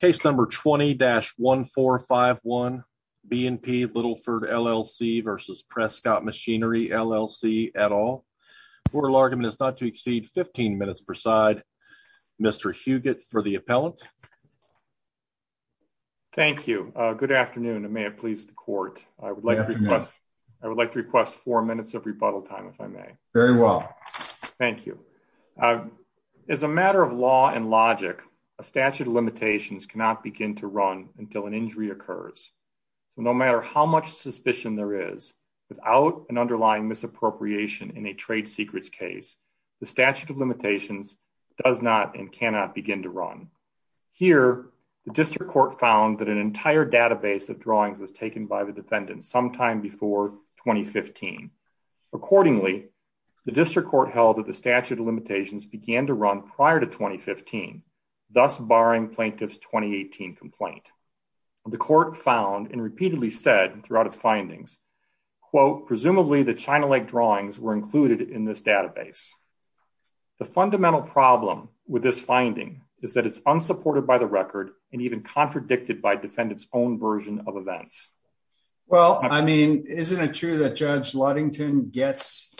Case number 20-1451 B and P Littleford LLC v. Prescott Machinery LLC et al. Court of argument is not to exceed 15 minutes per side. Mr. Huguette for the appellant. Thank you. Good afternoon and may it please the court. I would like to request four minutes of rebuttal time if I may. Very well. Thank you. As a matter of law and logic, a statute of limitations cannot begin to run until an injury occurs. So no matter how much suspicion there is without an underlying misappropriation in a trade secrets case, the statute of limitations does not and cannot begin to run. Here, the district court found that an entire database of drawings was taken by the defendant sometime before 2015. Accordingly, the district court held that the statute of limitations began to run prior to 2015, thus barring plaintiff's 2018 complaint. The court found and repeatedly said throughout its findings, quote, presumably the China Lake drawings were included in this database. The fundamental problem with this finding is that it's unsupported by the record and even contradicted by defendants own version of events. Well, I mean, isn't it true that Judge Ludington gets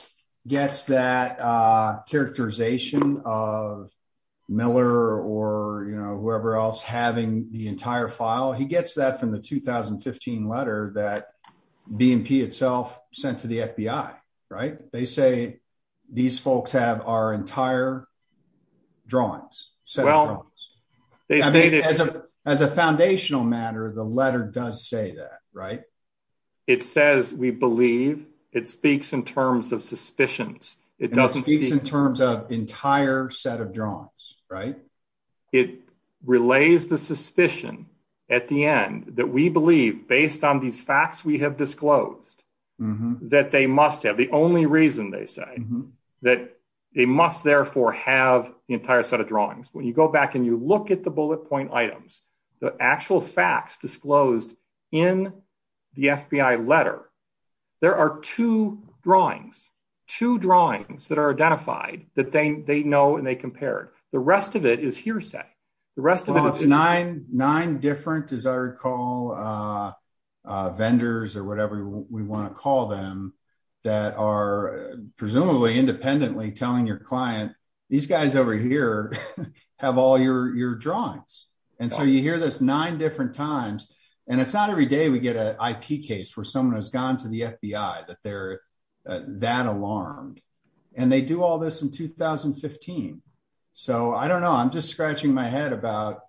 gets that characterization of Miller or whoever else having the entire file? He gets that from the 2015 letter that BNP itself sent to the FBI. Right. They say these folks have our entire drawings. So as a foundational matter, the letter does say that. Right. It says we believe it speaks in terms of suspicions. It doesn't speak in terms of entire set of drawings. Right. It relays the suspicion at the end that we believe based on these facts we have disclosed that they must have the only reason they say that they must therefore have the entire set of items, the actual facts disclosed in the FBI letter. There are two drawings, two drawings that are identified that they know and they compared. The rest of it is hearsay. The rest of it is nine nine different, as I recall, vendors or whatever we want to call them that are presumably independently telling your client these guys over here have all your drawings. And so you hear this nine different times. And it's not every day we get an IP case where someone has gone to the FBI that they're that alarmed and they do all this in 2015. So I don't know. I'm just scratching my head about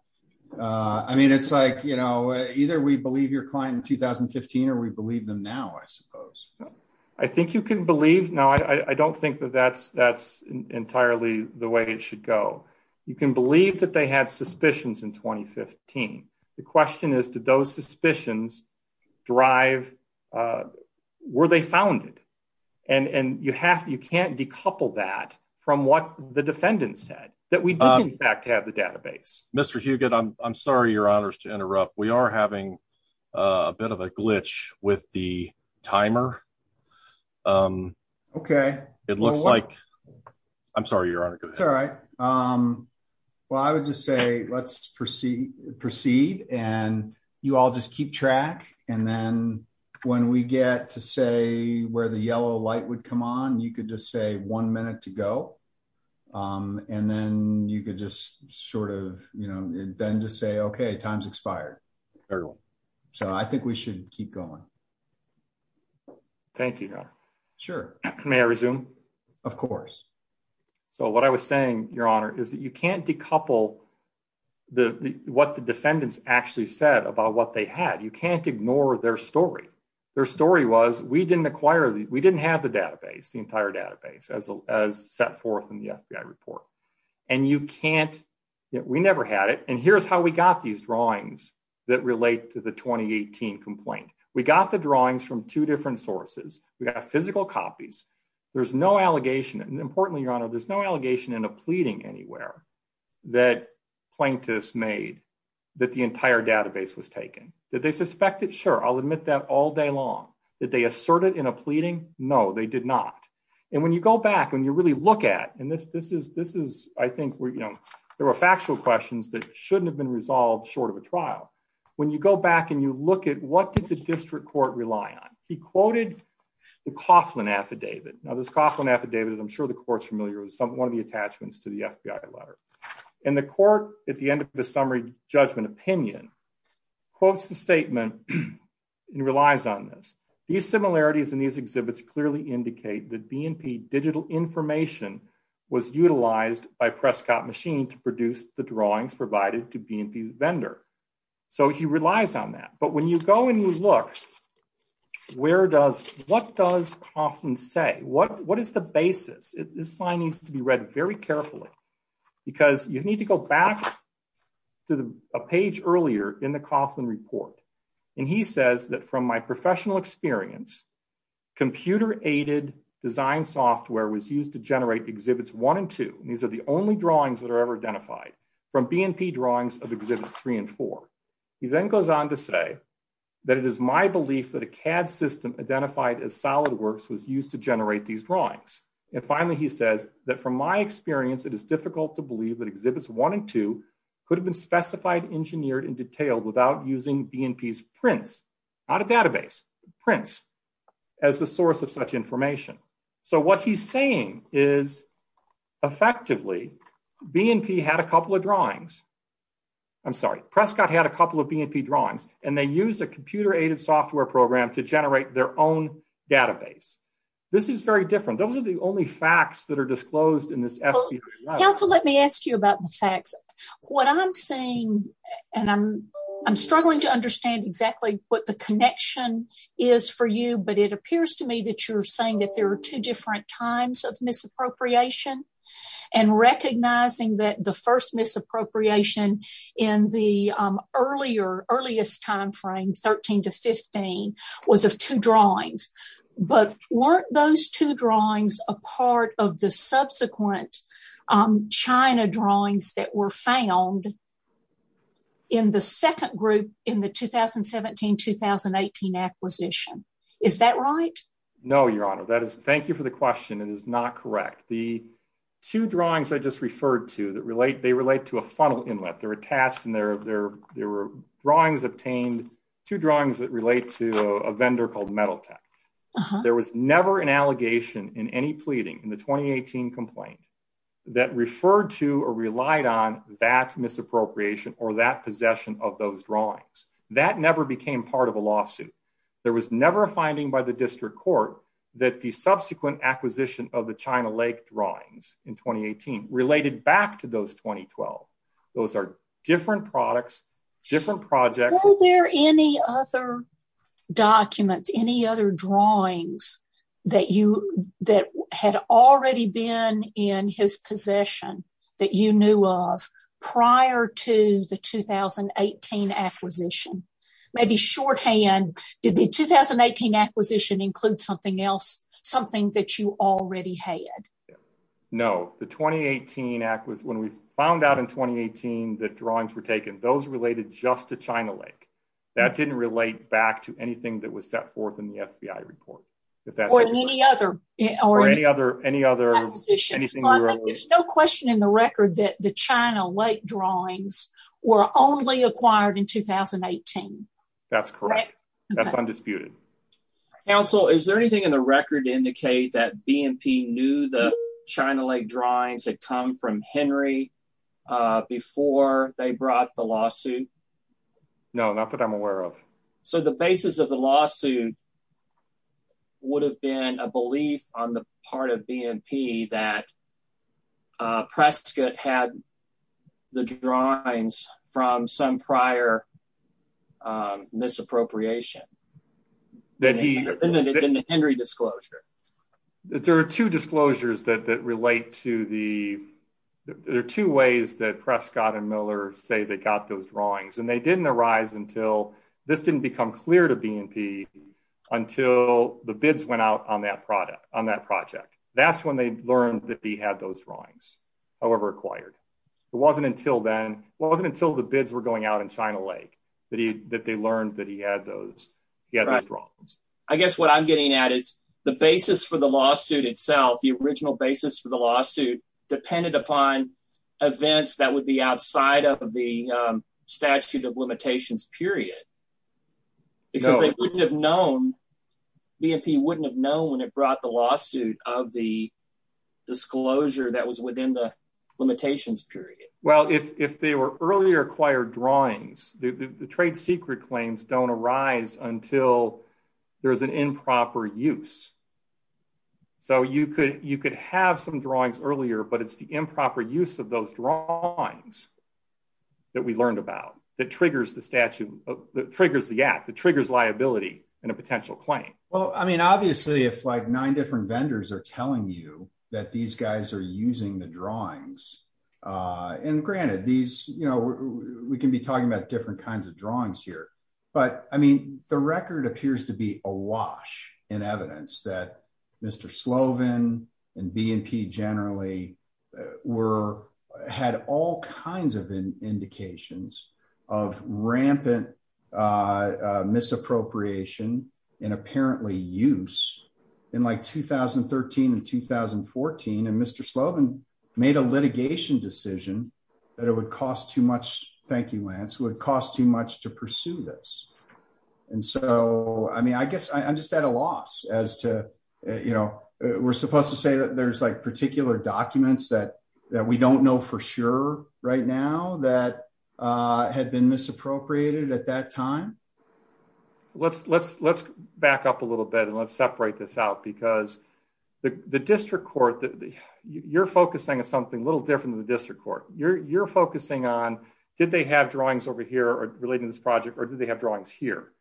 I mean, it's like, you know, either we believe your client in 2015 or we believe them now, I suppose. I think you can believe now. I don't think that that's that's entirely the way it should go. You can believe that they had suspicions in 2015. The question is, did those suspicions drive, uh, where they found it? And and you have, you can't decouple that from what the defendant said that we did, in fact, have the database. Mr Huguette, I'm sorry. Your honor's to interrupt. We are having a bit of a glitch with the timer. Um, okay. It looks like I'm sorry, your honor. All right. Um, well, I would just say, let's proceed, proceed. And you all just keep track. And then when we get to say where the yellow light would come on, you could just say one minute to go. And then you could just sort of, you know, then just say, okay, time's expired. So I think we should keep going. Thank you. Sure. May I resume? Of course. So what I was saying, your honor, is that you can't decouple the what the defendants actually said about what they had. You can't ignore their story. Their story was we didn't acquire. We didn't have the database, the entire database as set forth in the FBI report. And you can't, we never had it. And here's how we got these drawings that relate to the 2018 complaint. We got the drawings from two different sources. We got physical copies. There's no allegation. And importantly, your honor, there's no allegation in a pleading anywhere that plaintiffs made that the entire database was taken. Did they suspect it? Sure. I'll admit that all day long that they asserted in a pleading. No, they did not. And when you go back, when you really look at, and this, this is, this is, I think, you know, there were factual questions that shouldn't have been resolved short of a trial. When you go back and you look at what the district court rely on, he quoted the Coughlin affidavit. Now this Coughlin affidavit, I'm sure the court's familiar with some, one of the attachments to the FBI letter and the court at the end of the summary judgment opinion quotes, the statement and relies on this. These similarities in these exhibits clearly indicate that BNP digital information was utilized by Prescott machine to produce the drawings provided to BNP vendor. So he relies on that. But when you go and you look, where does, what does Coughlin say? What, what is the basis? This line needs to be read very carefully because you need to go back to a page earlier in the Coughlin report. And he says that from my professional experience, computer aided design software was used to generate exhibits one and two. And these are only drawings that are ever identified from BNP drawings of exhibits three and four. He then goes on to say that it is my belief that a CAD system identified as solid works was used to generate these drawings. And finally, he says that from my experience, it is difficult to believe that exhibits one and two could have been specified, engineered and detailed without using BNP's database prints as a source of such information. So what he's saying is effectively BNP had a couple of drawings. I'm sorry. Prescott had a couple of BNP drawings and they used a computer aided software program to generate their own database. This is very different. Those are the only facts that are disclosed in this. Let me ask you about the facts, what I'm saying, and I'm struggling to understand exactly what the connection is for you. But it appears to me that you're saying that there are two different times of misappropriation and recognizing that the first misappropriation in the earlier earliest time frame, 13 to 15, was of two drawings. But weren't those two drawings a part of the subsequent China drawings that were found in the second group in the 2017-2018 acquisition? Is that right? No, Your Honor. Thank you for the question. It is not correct. The two drawings I just referred to, they relate to a funnel inlet. They're attached and there were drawings obtained, two drawings that relate to a vendor called Metal Tech. There was never an allegation in any pleading in the 2018 complaint that referred to or relied on that misappropriation or that possession of those drawings. That never became part of a lawsuit. There was never a finding by the district court that the subsequent acquisition of the China Lake drawings in 2018 related back to those 2012. Those are different products, different projects. Were there any other documents, any other drawings that had already been in his possession that you knew of prior to the 2018 acquisition? Maybe shorthand, did the 2018 acquisition include something else, something that you already had? No, the 2018 acquisition, when we found out in 2018 that drawings were taken, those related just to China Lake. That didn't relate back to anything that was set forth in the FBI report. Or in any other acquisition. There's no question in the record that the China Lake drawings were only acquired in 2018. That's correct. That's undisputed. Counsel, is there anything in the record to confirm that Henry, before they brought the lawsuit? No, not that I'm aware of. So the basis of the lawsuit would have been a belief on the part of BNP that Prescott had the drawings from some prior misappropriation. In the Henry disclosure. There are two disclosures that relate to the two ways that Prescott and Miller say they got those drawings. And they didn't arise until, this didn't become clear to BNP, until the bids went out on that project. That's when they learned that he had those drawings, however acquired. It wasn't until the bids were going out in China Lake that they learned that he had those drawings. I guess what I'm getting at is the basis for the lawsuit depended upon events that would be outside of the statute of limitations period. Because they wouldn't have known, BNP wouldn't have known when it brought the lawsuit of the disclosure that was within the limitations period. Well, if they were earlier acquired drawings, the trade secret claims don't arise until there's an improper use. So you could have some drawings earlier, but it's the improper use of those drawings that we learned about, that triggers the statute, that triggers the act, that triggers liability in a potential claim. Well, I mean, obviously if like nine different vendors are telling you that these guys are using the drawings, and granted these, you know, we can be talking about different kinds of drawings here, but I mean, the record appears to be awash in evidence that Mr. Slovin and BNP generally had all kinds of indications of rampant misappropriation and apparently use in like 2013 and 2014. And Mr. Slovin made a litigation decision that it would cost too much, thank you and so I mean, I guess I'm just at a loss as to, you know, we're supposed to say that there's like particular documents that we don't know for sure right now that had been misappropriated at that time. Let's back up a little bit and let's separate this out because the district court, you're focusing on something a little different than the district court. You're focusing on, did they have drawings over here relating to this project or did they have drawings here?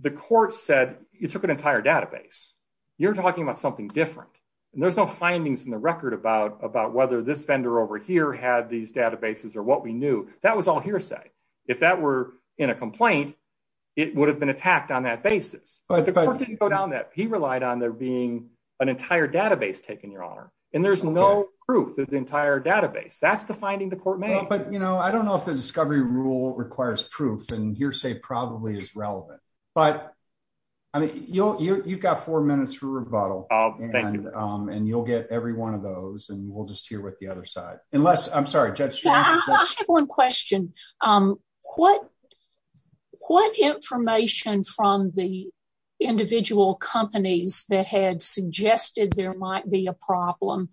The court said you took an entire database, you're talking about something different, and there's no findings in the record about whether this vendor over here had these databases or what we knew. That was all hearsay. If that were in a complaint, it would have been attacked on that basis, but the court didn't go down that. He relied on there being an entire database taken, Your Honor, and there's no proof of the entire database. That's the finding the court made. But you know, I don't know if the discovery rule requires proof and hearsay probably is relevant, but I mean, you've got four minutes for rebuttal and you'll get every one of those and we'll just hear what the other side, unless, I'm sorry, Judge. I have one question. What information from the individual companies that had suggested there might be a problem,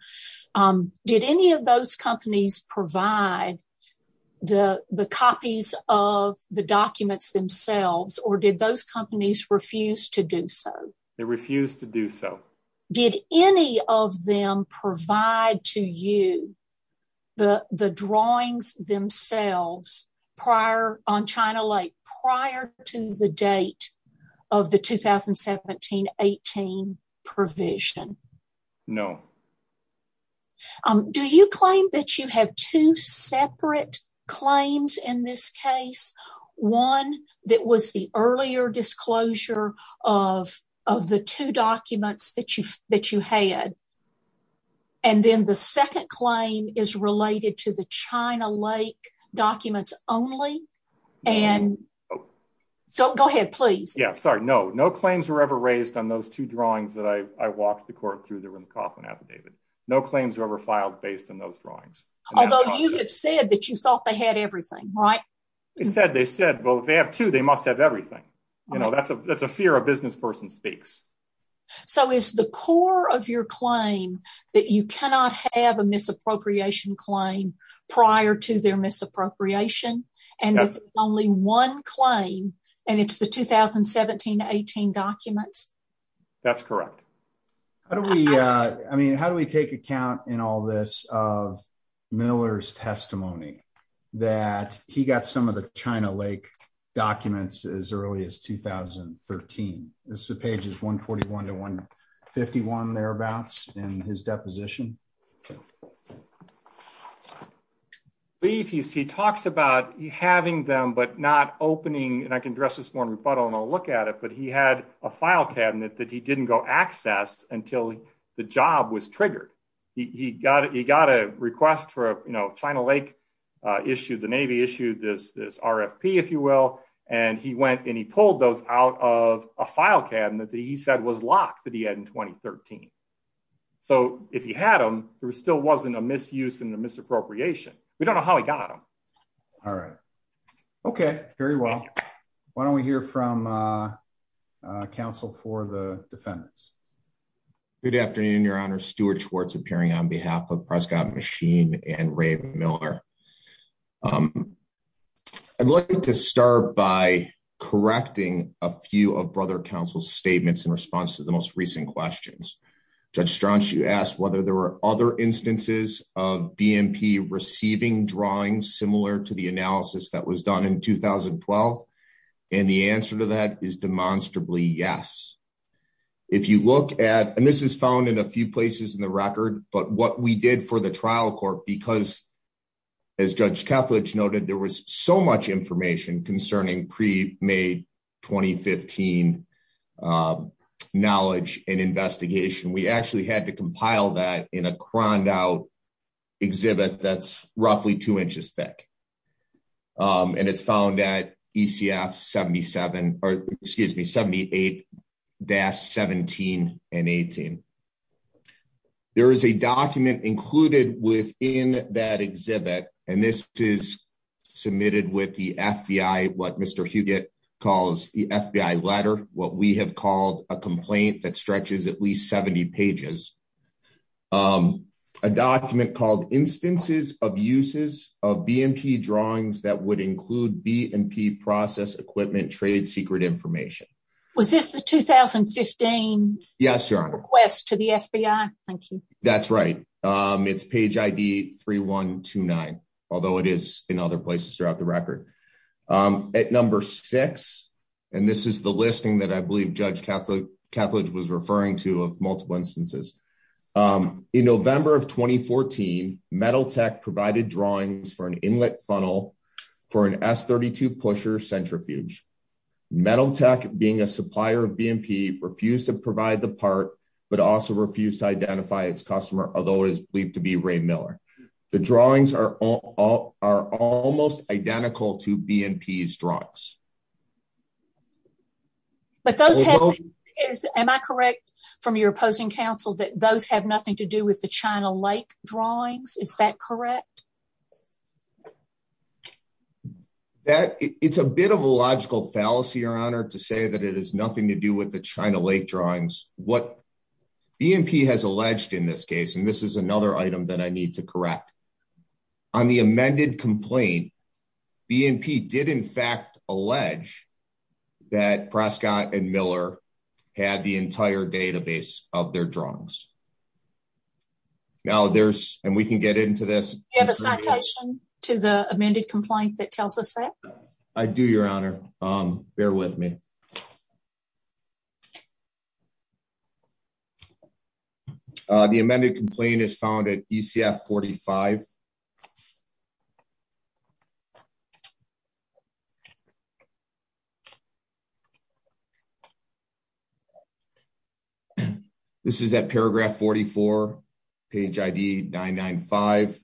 did any of those companies provide the copies of the documents themselves or did those companies refuse to do so? They refused to do so. Did any of them provide to you the drawings themselves prior on China Lake, prior to the date of the 2017-18 provision? No. Do you claim that you have two separate claims in this case? One that was the earlier disclosure of the two documents that you had and then the second claim is related to the China Lake documents only? So go ahead, please. Yeah, sorry, no. No claims were ever raised on those two affidavits. No claims were ever filed based on those drawings. Although you had said that you thought they had everything, right? They said, well, if they have two, they must have everything. You know, that's a fear a business person speaks. So is the core of your claim that you cannot have a misappropriation claim prior to their misappropriation and it's only one claim and it's the 2017-18 documents? That's correct. How do we, I mean, how do we take account in all this of Miller's testimony that he got some of the China Lake documents as early as 2013? This is pages 141 to 151 thereabouts in his deposition. He talks about having them but not opening and I can address this more in rebuttal and I'll look at it, but he had a file cabinet that he didn't go access until the job was triggered. He got it, he got a request for, you know, China Lake issued, the Navy issued this RFP, if you will, and he went and he pulled those out of a file cabinet that he said was locked that he had in 2013. So if he had them, there still wasn't a misuse and a misappropriation. We don't know how he got them. All right. Okay, very well. Why don't we hear from counsel for the defendants? Good afternoon, your honor. Stuart Schwartz appearing on behalf of Prescott Machine and Ray Miller. I'd like to start by correcting a few of brother counsel's statements in response to the most recent questions. Judge Straunch, you asked whether there were other instances of BMP receiving drawings similar to the analysis that was done in 2012, and the answer to that is demonstrably yes. If you look at, and this is found in a few places in the record, but what we did for the trial court, because as Judge Kethledge noted, there was so much information concerning pre-May 2015 knowledge and investigation, we actually had to compile that in a croned out exhibit that's roughly two inches thick, and it's found at ECF 77, or excuse me, 78-17 and 18. There is a document included within that exhibit, and this is submitted with the FBI, what Mr. Huguette calls the FBI letter, what we have called a complaint that stretches at least 70 pages, a document called instances of uses of BMP drawings that would include BMP process equipment trade secret information. Was this the although it is in other places throughout the record. At number six, and this is the listing that I believe Judge Kethledge was referring to of multiple instances. In November of 2014, Metal Tech provided drawings for an inlet funnel for an S-32 pusher centrifuge. Metal Tech, being a supplier of BMP, refused to provide the part, but also refused to identify its customer, although it is believed to be Ray Miller. The drawings are almost identical to BMP's drawings. But those have, am I correct from your opposing counsel that those have nothing to do with the China Lake drawings, is that correct? That, it's a bit of a logical fallacy, Your Honor, to say that it has nothing to do with the China Lake drawings. What BMP has alleged in this case, and this is another item that I need to correct, on the amended complaint, BMP did in fact allege that Prescott and Miller had the entire database of their drawings. Now there's, and we can get into this. Do you have a citation to the amended complaint that tells us that? I do, Your Honor. Bear with me. The amended complaint is found at ECF 45. This is at paragraph 44, page ID 995.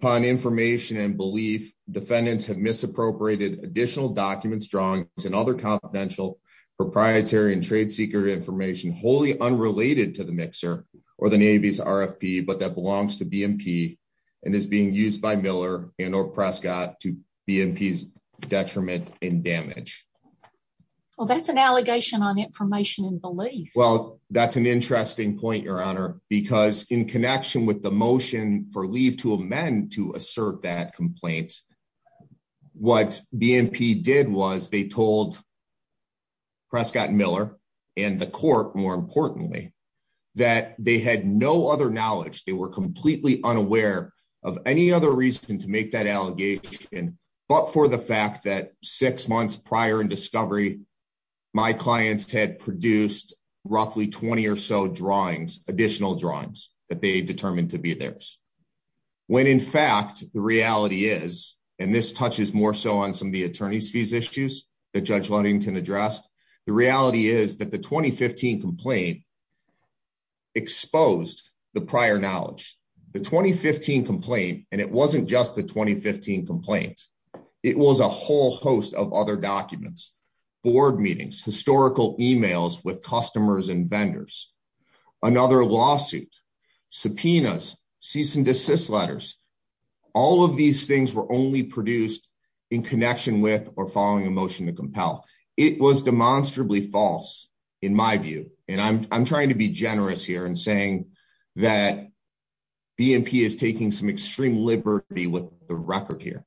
Upon information and belief, defendants have misappropriated additional documents, drawings, and other confidential proprietary and trade secret information wholly unrelated to the mixer or the Navy's RFP, but that belongs to BMP and is being used by Miller and or Prescott to BMP's detriment and damage. Well, that's an allegation on information and belief. Well, that's an interesting point, Your Honor, because in connection with the motion for leave to amend to assert that complaint, what BMP did was they told Prescott and Miller and the court, more importantly, that they had no other knowledge. They were completely unaware of any other reason to make that allegation, but for the fact that six months prior in discovery, my clients had produced roughly 20 or so drawings, additional drawings, that they determined to be theirs. When in fact the reality is, and this touches more so on some attorney's fees issues that Judge Ludington addressed, the reality is that the 2015 complaint exposed the prior knowledge. The 2015 complaint, and it wasn't just the 2015 complaint, it was a whole host of other documents, board meetings, historical emails with customers and vendors, another lawsuit, subpoenas, cease and desist letters. All of these things were only produced in connection with or following a motion to compel. It was demonstrably false, in my view, and I'm trying to be generous here in saying that BMP is taking some extreme liberty with the record here.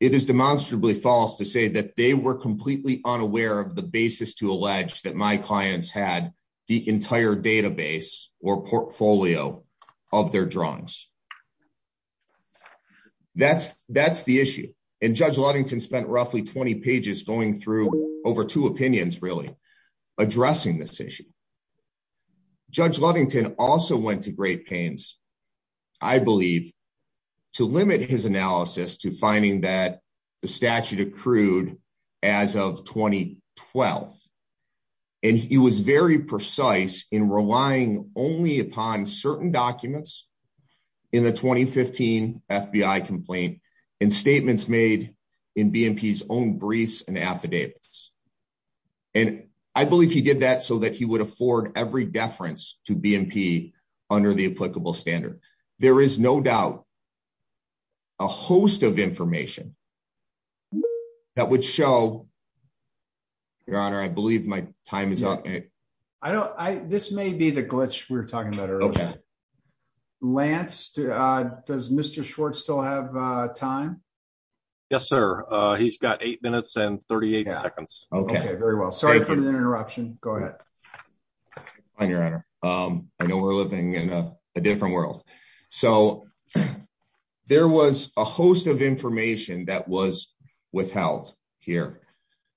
It is demonstrably false to say that they were completely unaware of the basis to allege that my clients had the entire database or portfolio of their drawings. That's the issue, and Judge Ludington spent roughly 20 pages going through over two opinions, really, addressing this issue. Judge Ludington also went to great pains, I believe, to limit his analysis to finding that the statute accrued as of 2012, and he was very precise in relying only upon certain documents in the 2015 FBI complaint and statements made in BMP's own briefs and affidavits. I believe he did that so that he would afford every deference to BMP under the applicable standard. There is no doubt a host of information that would show, Your Honor, I believe my time is up. This may be the glitch we were talking about earlier. Lance, does Mr. Schwartz still have time? Yes, sir. He's got eight minutes and 38 seconds. Okay, very well. Sorry for the There was a host of information that was withheld here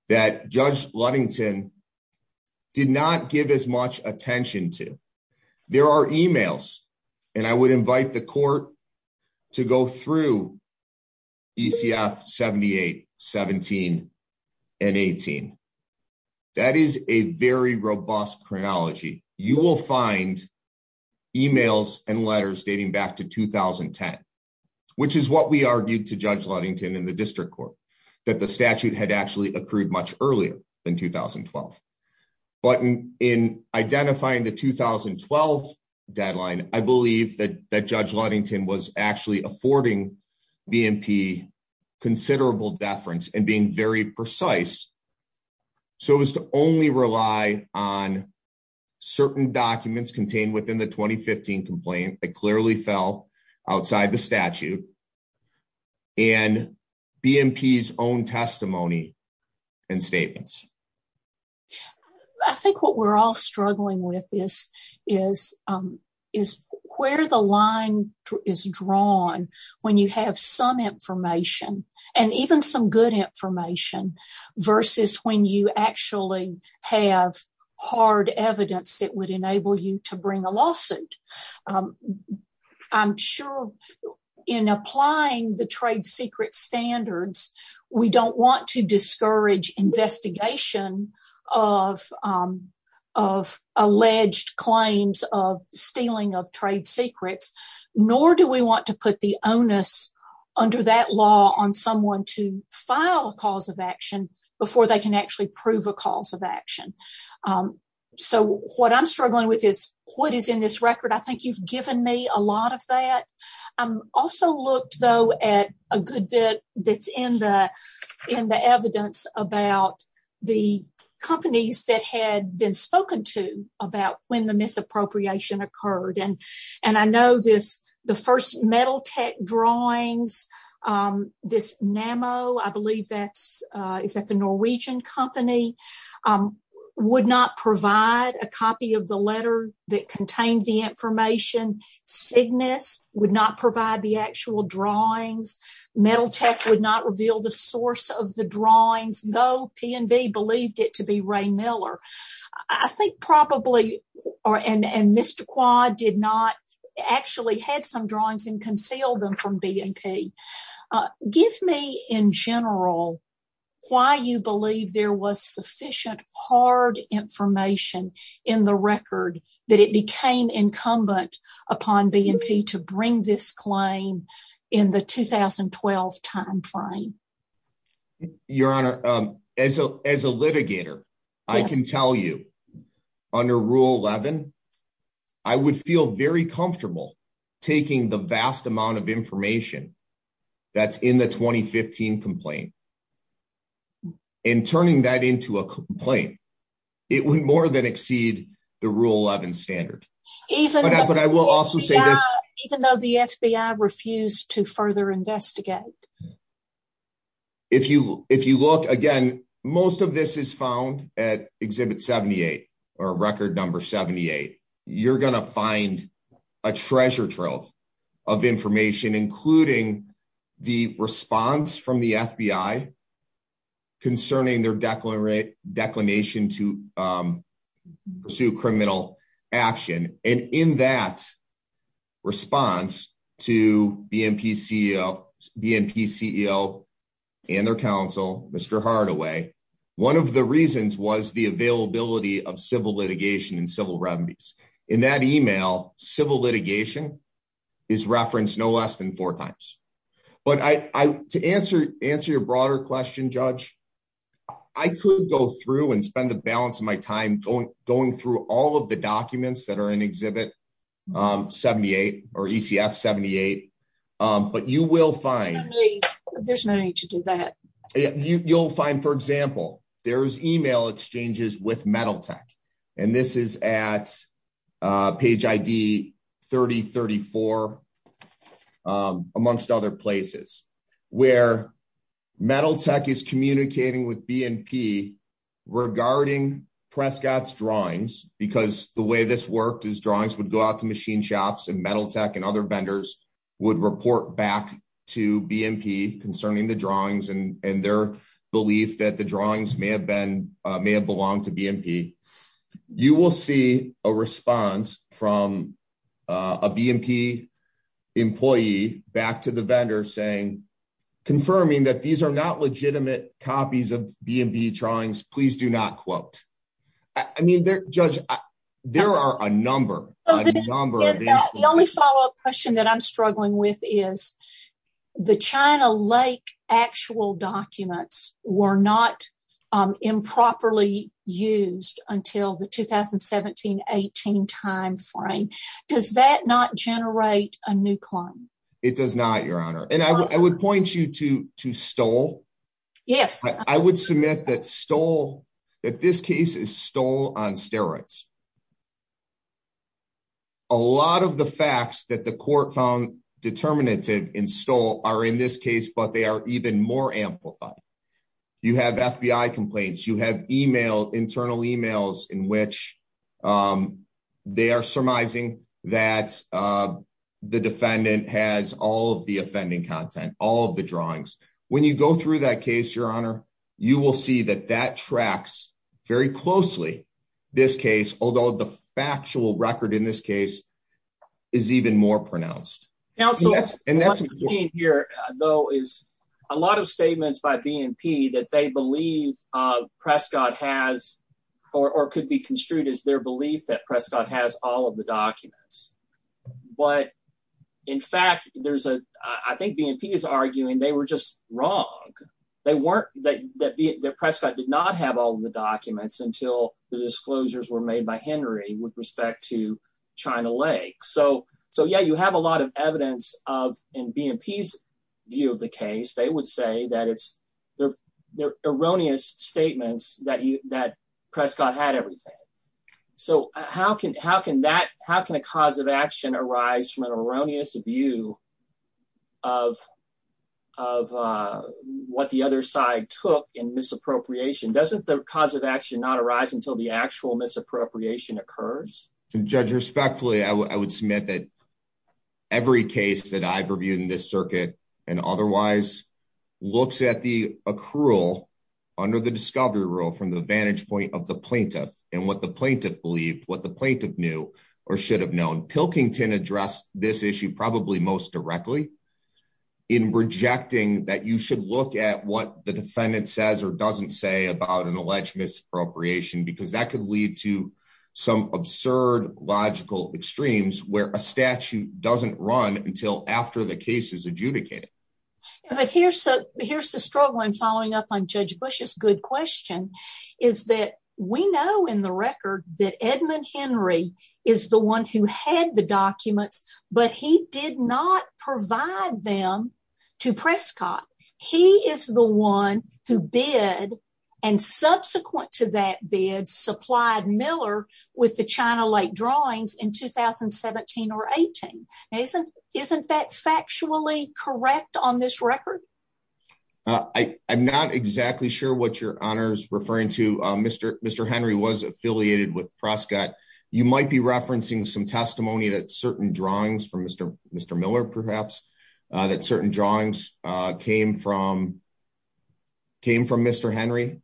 that Judge Ludington did not give as much attention to. There are emails, and I would invite the Court to go through ECF 78, 17, and 18. That is a very robust chronology. You will find emails and letters dating back to 2010, which is what we argued to Judge Ludington in the District Court, that the statute had actually accrued much earlier than 2012. But in identifying the 2012 deadline, I believe that Judge Ludington was actually affording BMP considerable deference and being very precise so as to only rely on certain documents contained within the 2015 complaint that clearly fell outside the statute and BMP's own testimony and statements. I think what we're all struggling with is where the line is drawn when you have some information and even some good information versus when you actually have hard evidence that would enable you to bring a lawsuit. I'm sure in applying the trade secret standards, we don't want to discourage investigation of alleged claims of stealing of trade secrets, nor do we want to put the onus under that law on someone to file a cause of action before they can actually prove a cause of action. So what I'm struggling with is what is in this record. I think you've given me a lot of that. I also looked, though, at a good bit that's in the evidence about the companies that had been involved in the drawings. This NAMO, I believe that's the Norwegian company, would not provide a copy of the letter that contained the information. Cygnus would not provide the actual drawings. Metal Tech would not reveal the source of the drawings, though P&B believed it to be Ray Miller. I think probably, and Mr. Quad did not, actually had some drawings and concealed them from B&P. Give me, in general, why you believe there was sufficient hard information in the record that it became incumbent upon B&P to bring this claim in the 2012 timeframe. Your Honor, as a litigator, I can tell you under Rule 11, I would feel very comfortable taking the vast amount of information that's in the 2015 complaint and turning that into a complaint. It would more than exceed the Rule 11 standard. Even though the FBI refused to further investigate. If you look, again, most of this is found at Exhibit 78 or Record Number 78. You're going to a treasure trove of information, including the response from the FBI concerning their declination to pursue criminal action. In that response to B&P CEO and their counsel, Mr. Hardaway, one of the reasons was the availability of civil litigation and civil remedies. In that email, civil litigation is referenced no less than four times. To answer your broader question, Judge, I could go through and spend the balance of my time going through all of the documents that are in Exhibit 78 or ECF 78, but you will find- There's no need to do that. You'll find, for example, there's email exchanges with Metal Tech, and this is at page ID 3034, amongst other places, where Metal Tech is communicating with B&P regarding Prescott's drawings, because the way this worked is drawings would go out to machine shops, and Metal Tech and other vendors would report back to B&P concerning the drawings and their belief that the drawings may have belonged to B&P. You will see a response from a B&P employee back to the vendor saying, confirming that these are not legitimate copies of B&P drawings, please do not quote. I mean, Judge, there are a number of instances- The only follow-up question that I'm struggling with is the China Lake actual documents were not improperly used until the 2017-18 time frame. Does that not generate a new claim? It does not, Your Honor, and I would point you to Stoll. Yes. I would submit that Stoll, that this case is Stoll on steroids. A lot of the facts that the court found determinative in Stoll are in this case, but they are even more amplified. You have FBI complaints, you have email, internal emails in which they are surmising that the defendant has all of the offending content, all of the drawings. When you go through that case, Your Honor, you will see that that tracks very closely this case, although the factual record in this case is even more pronounced. Counsel, what I'm seeing here, though, is a lot of statements by B&P that they believe Prescott has or could be construed as their belief that Prescott has all of the documents. But, in fact, I think B&P is arguing they were just wrong. Prescott did not have all of the documents until the disclosures were made by Henry with respect to China Lake. So, yeah, you have a lot of evidence in B&P's view of the case. They would say that it's from an erroneous view of what the other side took in misappropriation. Doesn't the cause of action not arise until the actual misappropriation occurs? Judge, respectfully, I would submit that every case that I've reviewed in this circuit and otherwise looks at the accrual under the discovery rule from the vantage point of the plaintiff and what the plaintiff believed, what the plaintiff knew or should have known, Pilkington addressed this issue probably most directly in rejecting that you should look at what the defendant says or doesn't say about an alleged misappropriation because that could lead to some absurd logical extremes where a statute doesn't run until after the case is adjudicated. But here's the struggle I'm following up on Judge Bush's good question is that we know in the record that Edmund Henry is the one who had the documents but he did not provide them to Prescott. He is the one who bid and subsequent to that bid supplied Miller with the China Lake drawings in 2017 or 18. Isn't that factually correct on this record? I'm not exactly sure what your honor is referring to. Mr. Henry was affiliated with Prescott. You might be referencing some testimony that certain drawings from Mr. Miller perhaps that certain drawings came from Mr. Henry.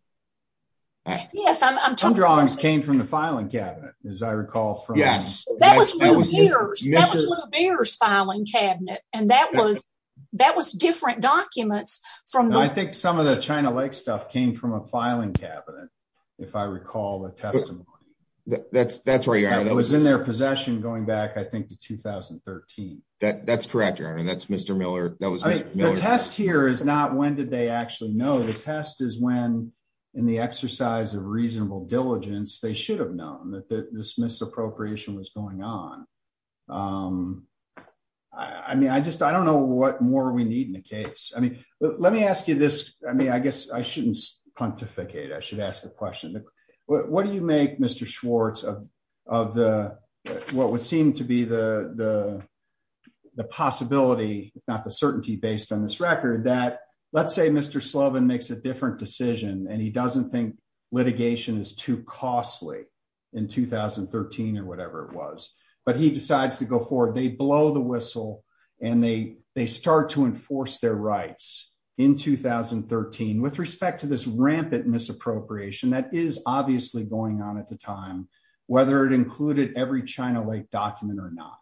Yes, some drawings came from the filing cabinet and that was different documents. I think some of the China Lake stuff came from a filing cabinet if I recall the testimony. That's right your honor. It was in their possession going back I think to 2013. That's correct your honor. That's Mr. Miller. The test here is not when did they actually know. The test is when in the exercise of reasonable diligence they should have known that this misappropriation was going on. I mean I just I don't know what more we need in the case. I mean let me ask you this. I mean I guess I shouldn't pontificate. I should ask a question. What do you make Mr. Schwartz of of the what would seem to be the the possibility if not the certainty based on this record that let's say Mr. Slovin makes a different decision and he doesn't think litigation is too costly in 2013 or whatever it was but he decides to go forward they blow the whistle and they they start to enforce their rights in 2013 with respect to this rampant misappropriation that is obviously going on at the time whether it included every China Lake document or not.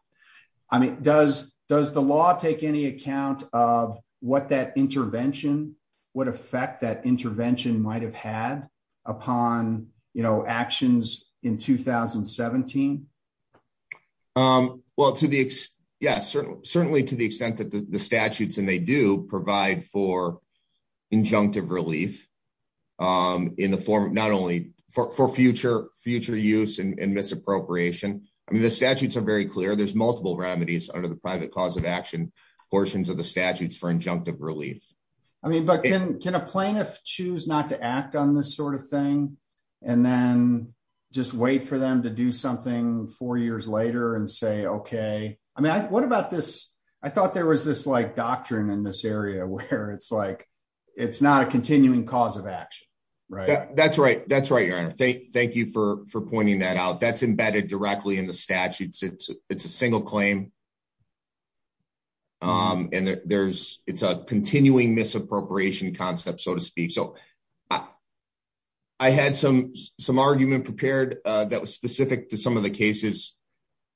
I mean does does the law take any account of what that intervention would affect that intervention might have had upon you know actions in 2017? Well to the yes certainly to the extent that the statutes and they do provide for injunctive relief in the form not only for future future use and misappropriation. I mean the statutes are very clear there's multiple remedies under the private cause of action portions of the statutes for injunctive relief. I mean but can can a plaintiff choose not to act on this sort of thing and then just wait for them to do something four years later and say okay I mean I what about this I thought there was this like doctrine in this area where it's like it's not a continuing cause of action right? That's right that's right your honor thank thank you for for pointing that out that's embedded directly in the statutes it's so I had some some argument prepared that was specific to some of the cases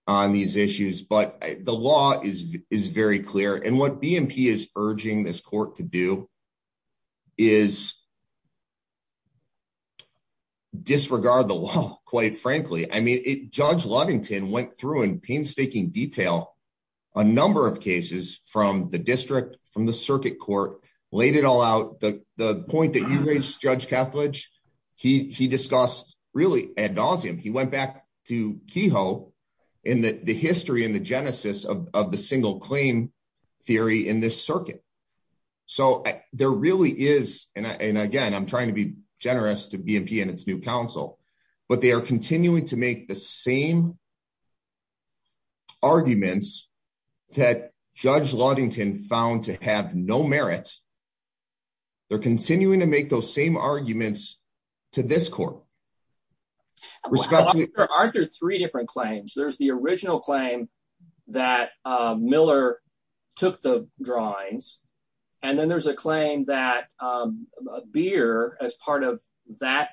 on these issues but the law is is very clear and what BMP is urging this court to do is disregard the law quite frankly. I mean it Judge Lovington went through in painstaking detail a number of cases from the district from the circuit court laid it all out the the point that you raised Judge Kethledge he he discussed really ad nauseum he went back to Kehoe in the the history and the genesis of the single claim theory in this circuit. So there really is and again I'm trying to be generous to BMP and its new counsel but they are continuing to make the same arguments that Judge Lovington found to have no merit they're continuing to make those same arguments to this court. Aren't there three different claims there's the original claim that Miller took the drawings and then there's a claim that Beer as part of that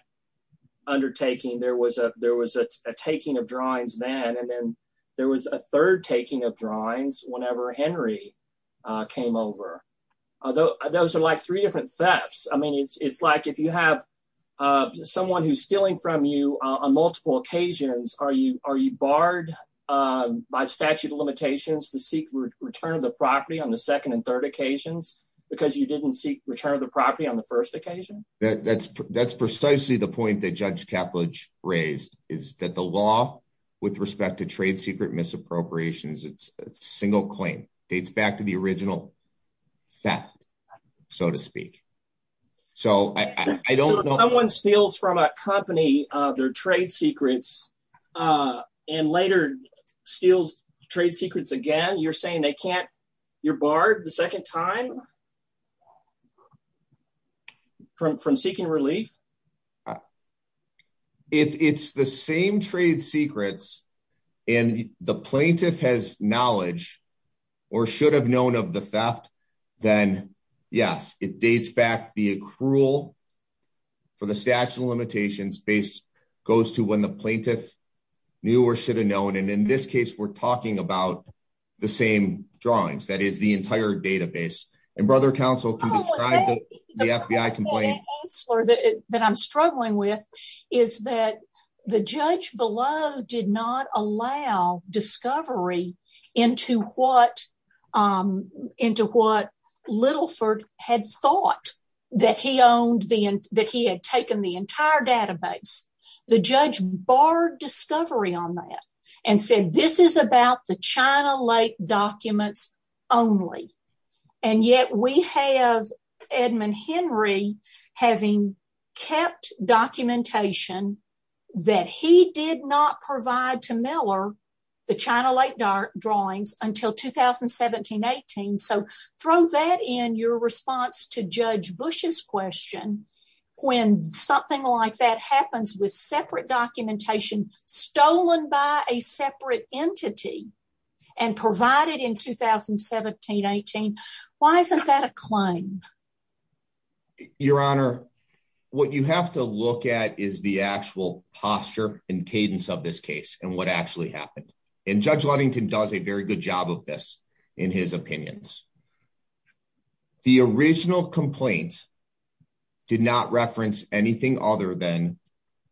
undertaking there was a taking of drawings then and then there was a third taking of drawings whenever Henry came over. Those are like three different thefts I mean it's like if you have someone who's stealing from you on multiple occasions are you are you barred by statute of limitations to seek return of the property on the second and third occasions because you didn't seek return of the property on first occasion? That's that's precisely the point that Judge Kethledge raised is that the law with respect to trade secret misappropriations it's a single claim dates back to the original theft so to speak. So I don't know if someone steals from a company their trade secrets and later steals trade secrets again you're saying they can't you're barred the second time? From seeking relief? If it's the same trade secrets and the plaintiff has knowledge or should have known of the theft then yes it dates back the accrual for the statute of limitations based goes to when the plaintiff knew or should have known and in this case we're talking about the same drawings that is the entire database and brother counsel can describe the FBI complaint. The problem that I'm struggling with is that the judge below did not allow discovery into what Littleford had thought that he owned the that he had taken the entire database. The judge barred discovery on that and said this is about the China Lake documents only and yet we have Edmund Henry having kept documentation that he did not provide to Miller the China Lake drawings until 2017-18. So throw that in your response to Judge Bush's question when something like that happens with separate documentation stolen by a separate entity and provided in 2017-18 why isn't that a claim? Your honor what you have to look at is the actual posture and cadence of this case and what actually happened and Judge Ludington does a very good job of this in his opinions. The original complaint did not reference anything other than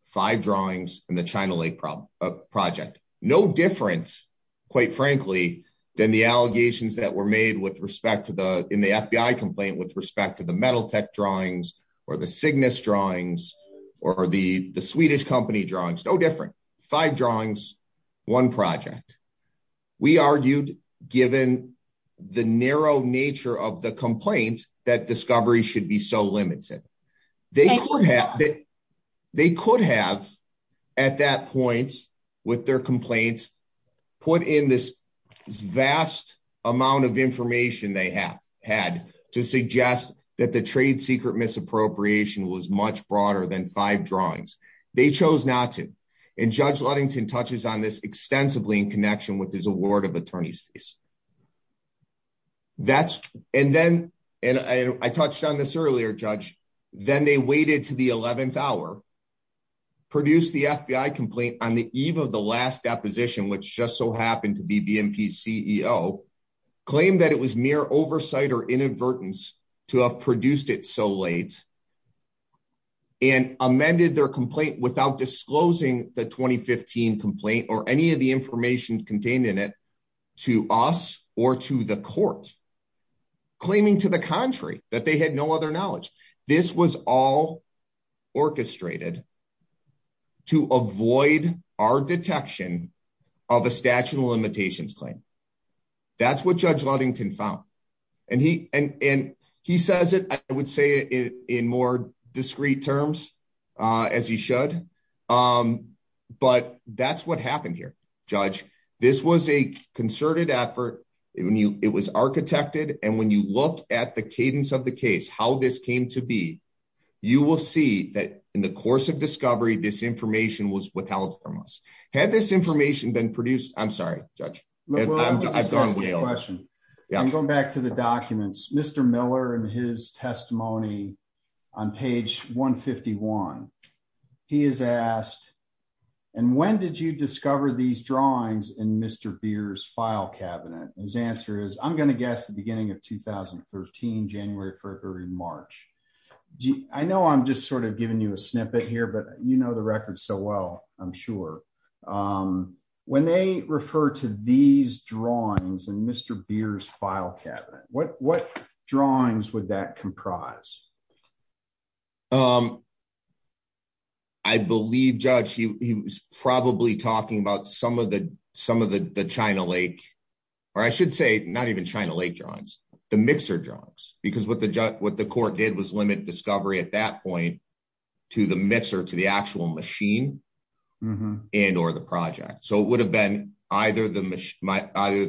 five drawings in the China Lake project. No different quite frankly than the allegations that were made with respect to the in the FBI complaint with respect to the metal tech drawings or the Cygnus drawings or the the Swedish company drawings. No different five drawings one project. We argued given the narrow nature of the complaint that discovery should be so limited. They could have at that point with their complaints put in this vast amount of information they have had to suggest that the trade secret misappropriation was much broader than five drawings. They chose not to and Judge Ludington touches on this extensively in connection with his award of attorney's fees. That's and then and I touched on this earlier Judge then they waited to the 11th hour produced the FBI complaint on the eve of the last deposition which just so happened to be BMP's CEO claimed that it was mere oversight or inadvertence to have produced it so late and amended their complaint without disclosing the 2015 complaint or any of the information contained in it to us or to the court claiming to the contrary that they had no other knowledge. This was all orchestrated to avoid our detection of a statute of limitations claim. That's what Judge Ludington found and he and and he says it I would say it in more discrete terms as he should but that's what happened here Judge. This was a concerted effort when you it was architected and when you look at the cadence of the case how this came to be you will see that in the course of discovery this information was withheld from us. Had this information been I'm sorry Judge. I've gone way over. I'm going back to the documents Mr. Miller and his testimony on page 151 he has asked and when did you discover these drawings in Mr. Beer's file cabinet? His answer is I'm going to guess the beginning of 2013 January, February, March. I know I'm just sort of giving you a snippet here but you know the record so well I'm sure. When they refer to these drawings in Mr. Beer's file cabinet what what drawings would that comprise? I believe Judge he was probably talking about some of the some of the China Lake or I should say not even China Lake drawings the mixer drawings because what the judge what the court did was limit discovery at that point to the mixer to the and or the project. So it would have been either the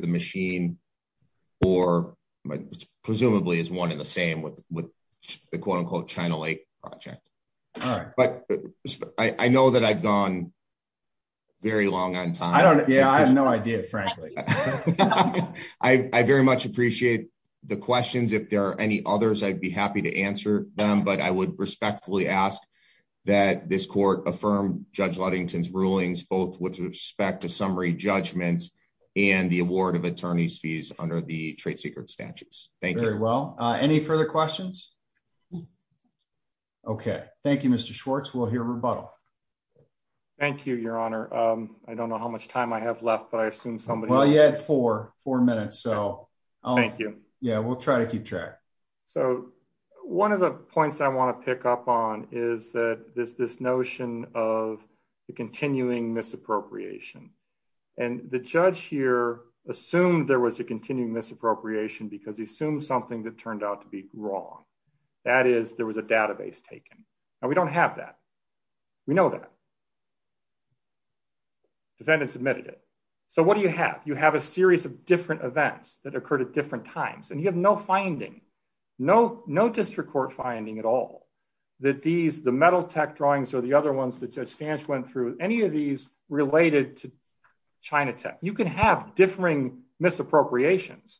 machine or presumably is one in the same with with the quote-unquote China Lake project. All right. But I know that I've gone very long on time. I don't yeah I have no idea frankly. I very much appreciate the questions if there are any others I'd be happy to answer them but I would respectfully ask that this court affirm Judge Ludington's rulings both with respect to summary judgments and the award of attorney's fees under the trade secret statutes. Thank you. Very well. Any further questions? Okay. Thank you Mr. Schwartz. We'll hear rebuttal. Thank you your honor. I don't know how much time I have left but I assume somebody. Well you had four four minutes so. Thank you. Yeah we'll try to keep track. So one of the continuing misappropriation and the judge here assumed there was a continuing misappropriation because he assumed something that turned out to be wrong. That is there was a database taken. Now we don't have that. We know that. Defendants admitted it. So what do you have? You have a series of different events that occurred at different times and you have no finding. No no district court finding at all. That these the metal tech drawings or the other ones that Judge Stanch went through any of these related to China Tech. You can have differing misappropriations.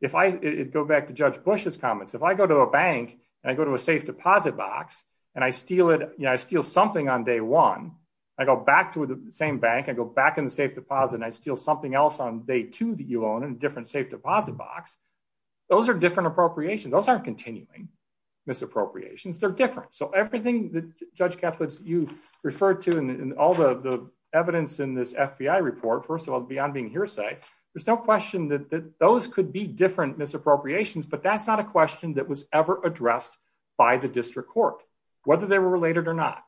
If I go back to Judge Bush's comments. If I go to a bank and I go to a safe deposit box and I steal it you know I steal something on day one. I go back to the same bank. I go back in the safe deposit and I steal something else on day two that you own in a different safe deposit box. Those are different appropriations. Those aren't continuing misappropriations. They're different. So everything that Judge Catholics you referred to in all the the evidence in this FBI report. First of all beyond being hearsay there's no question that that those could be different misappropriations but that's not a question that was ever addressed by the district court whether they were related or not.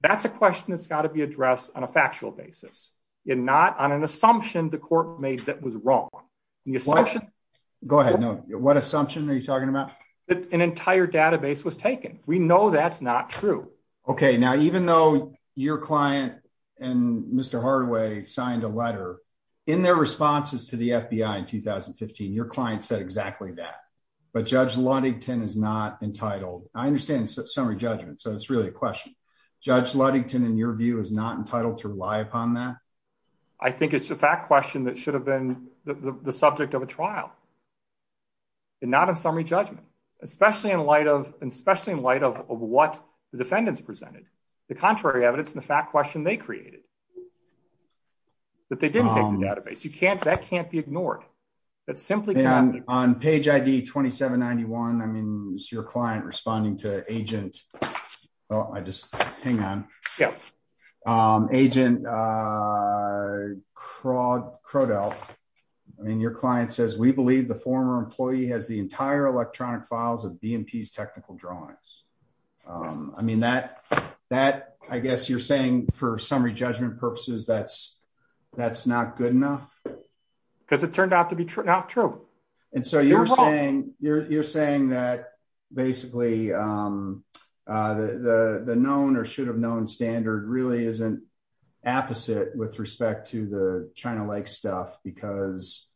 That's a question that's got to be addressed on a factual basis and not on an assumption the was wrong. The assumption. Go ahead. No. What assumption are you talking about? That an entire database was taken. We know that's not true. Okay now even though your client and Mr. Hardaway signed a letter in their responses to the FBI in 2015 your client said exactly that. But Judge Ludington is not entitled. I understand it's a summary judgment so it's really a question. Judge Ludington in your view is not entitled to rely upon that? I think it's a fact question that should have been the subject of a trial and not a summary judgment especially in light of especially in light of what the defendants presented. The contrary evidence and the fact question they created. That they didn't take the database. You can't that can't be ignored. That simply can't. And on page ID 2791 I mean it's your client responding to agent well I just hang on. Yeah. Agent Crodell I mean your client says we believe the former employee has the entire electronic files of BMP's technical drawings. I mean that that I guess you're saying for summary judgment purposes that's that's not good enough? Because it turned out to be true not true. And so you're saying you're saying that basically the known or should have known standard really isn't opposite with respect to the China Lake stuff because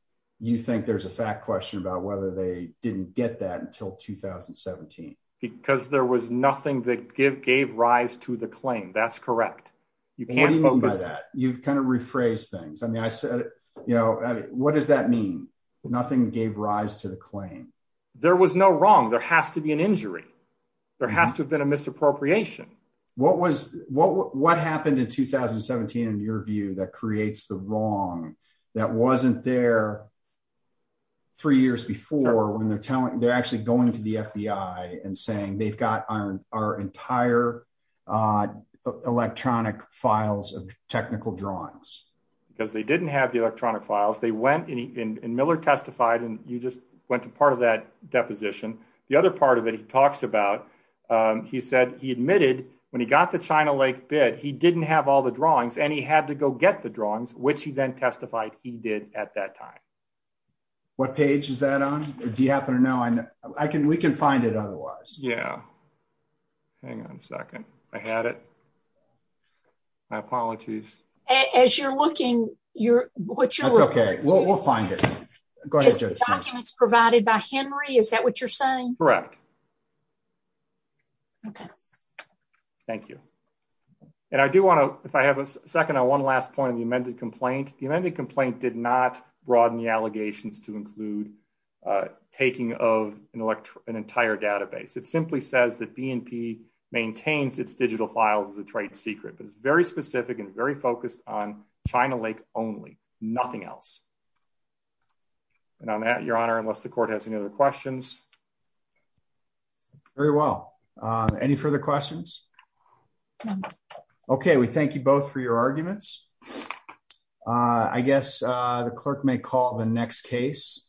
you think there's a fact question about whether they didn't get that until 2017. Because there was nothing that gave gave rise to the claim. That's correct. You can't focus. You've kind of rephrased things. I mean I said you know what does that mean? Nothing gave rise to the claim. There was no wrong. There has to be an injury. There has to have been a misappropriation. What was what what happened in 2017 in your view that creates the wrong? That wasn't there three years before when they're telling they're actually going to the FBI and saying they've got our entire electronic files of technical drawings. Because they didn't have the electronic files. They went and Miller testified and you just went to part of that deposition. The other part of it he talks about he said he admitted when he got the China Lake bid he didn't have all the drawings and he had to go get the drawings which he then testified he did at that time. What page is that on? Do you happen to know? I can we can you're what you're okay we'll find it. Is the documents provided by Henry? Is that what you're saying? Correct. Okay. Thank you and I do want to if I have a second on one last point of the amended complaint. The amended complaint did not broaden the allegations to include taking of an entire database. It simply says that BNP maintains its digital files as a trade secret but it's very specific and very focused on China Lake only nothing else. And I'm at your honor unless the court has any other questions. Very well. Any further questions? Okay we thank you both for your arguments. I guess the clerk may call the next case.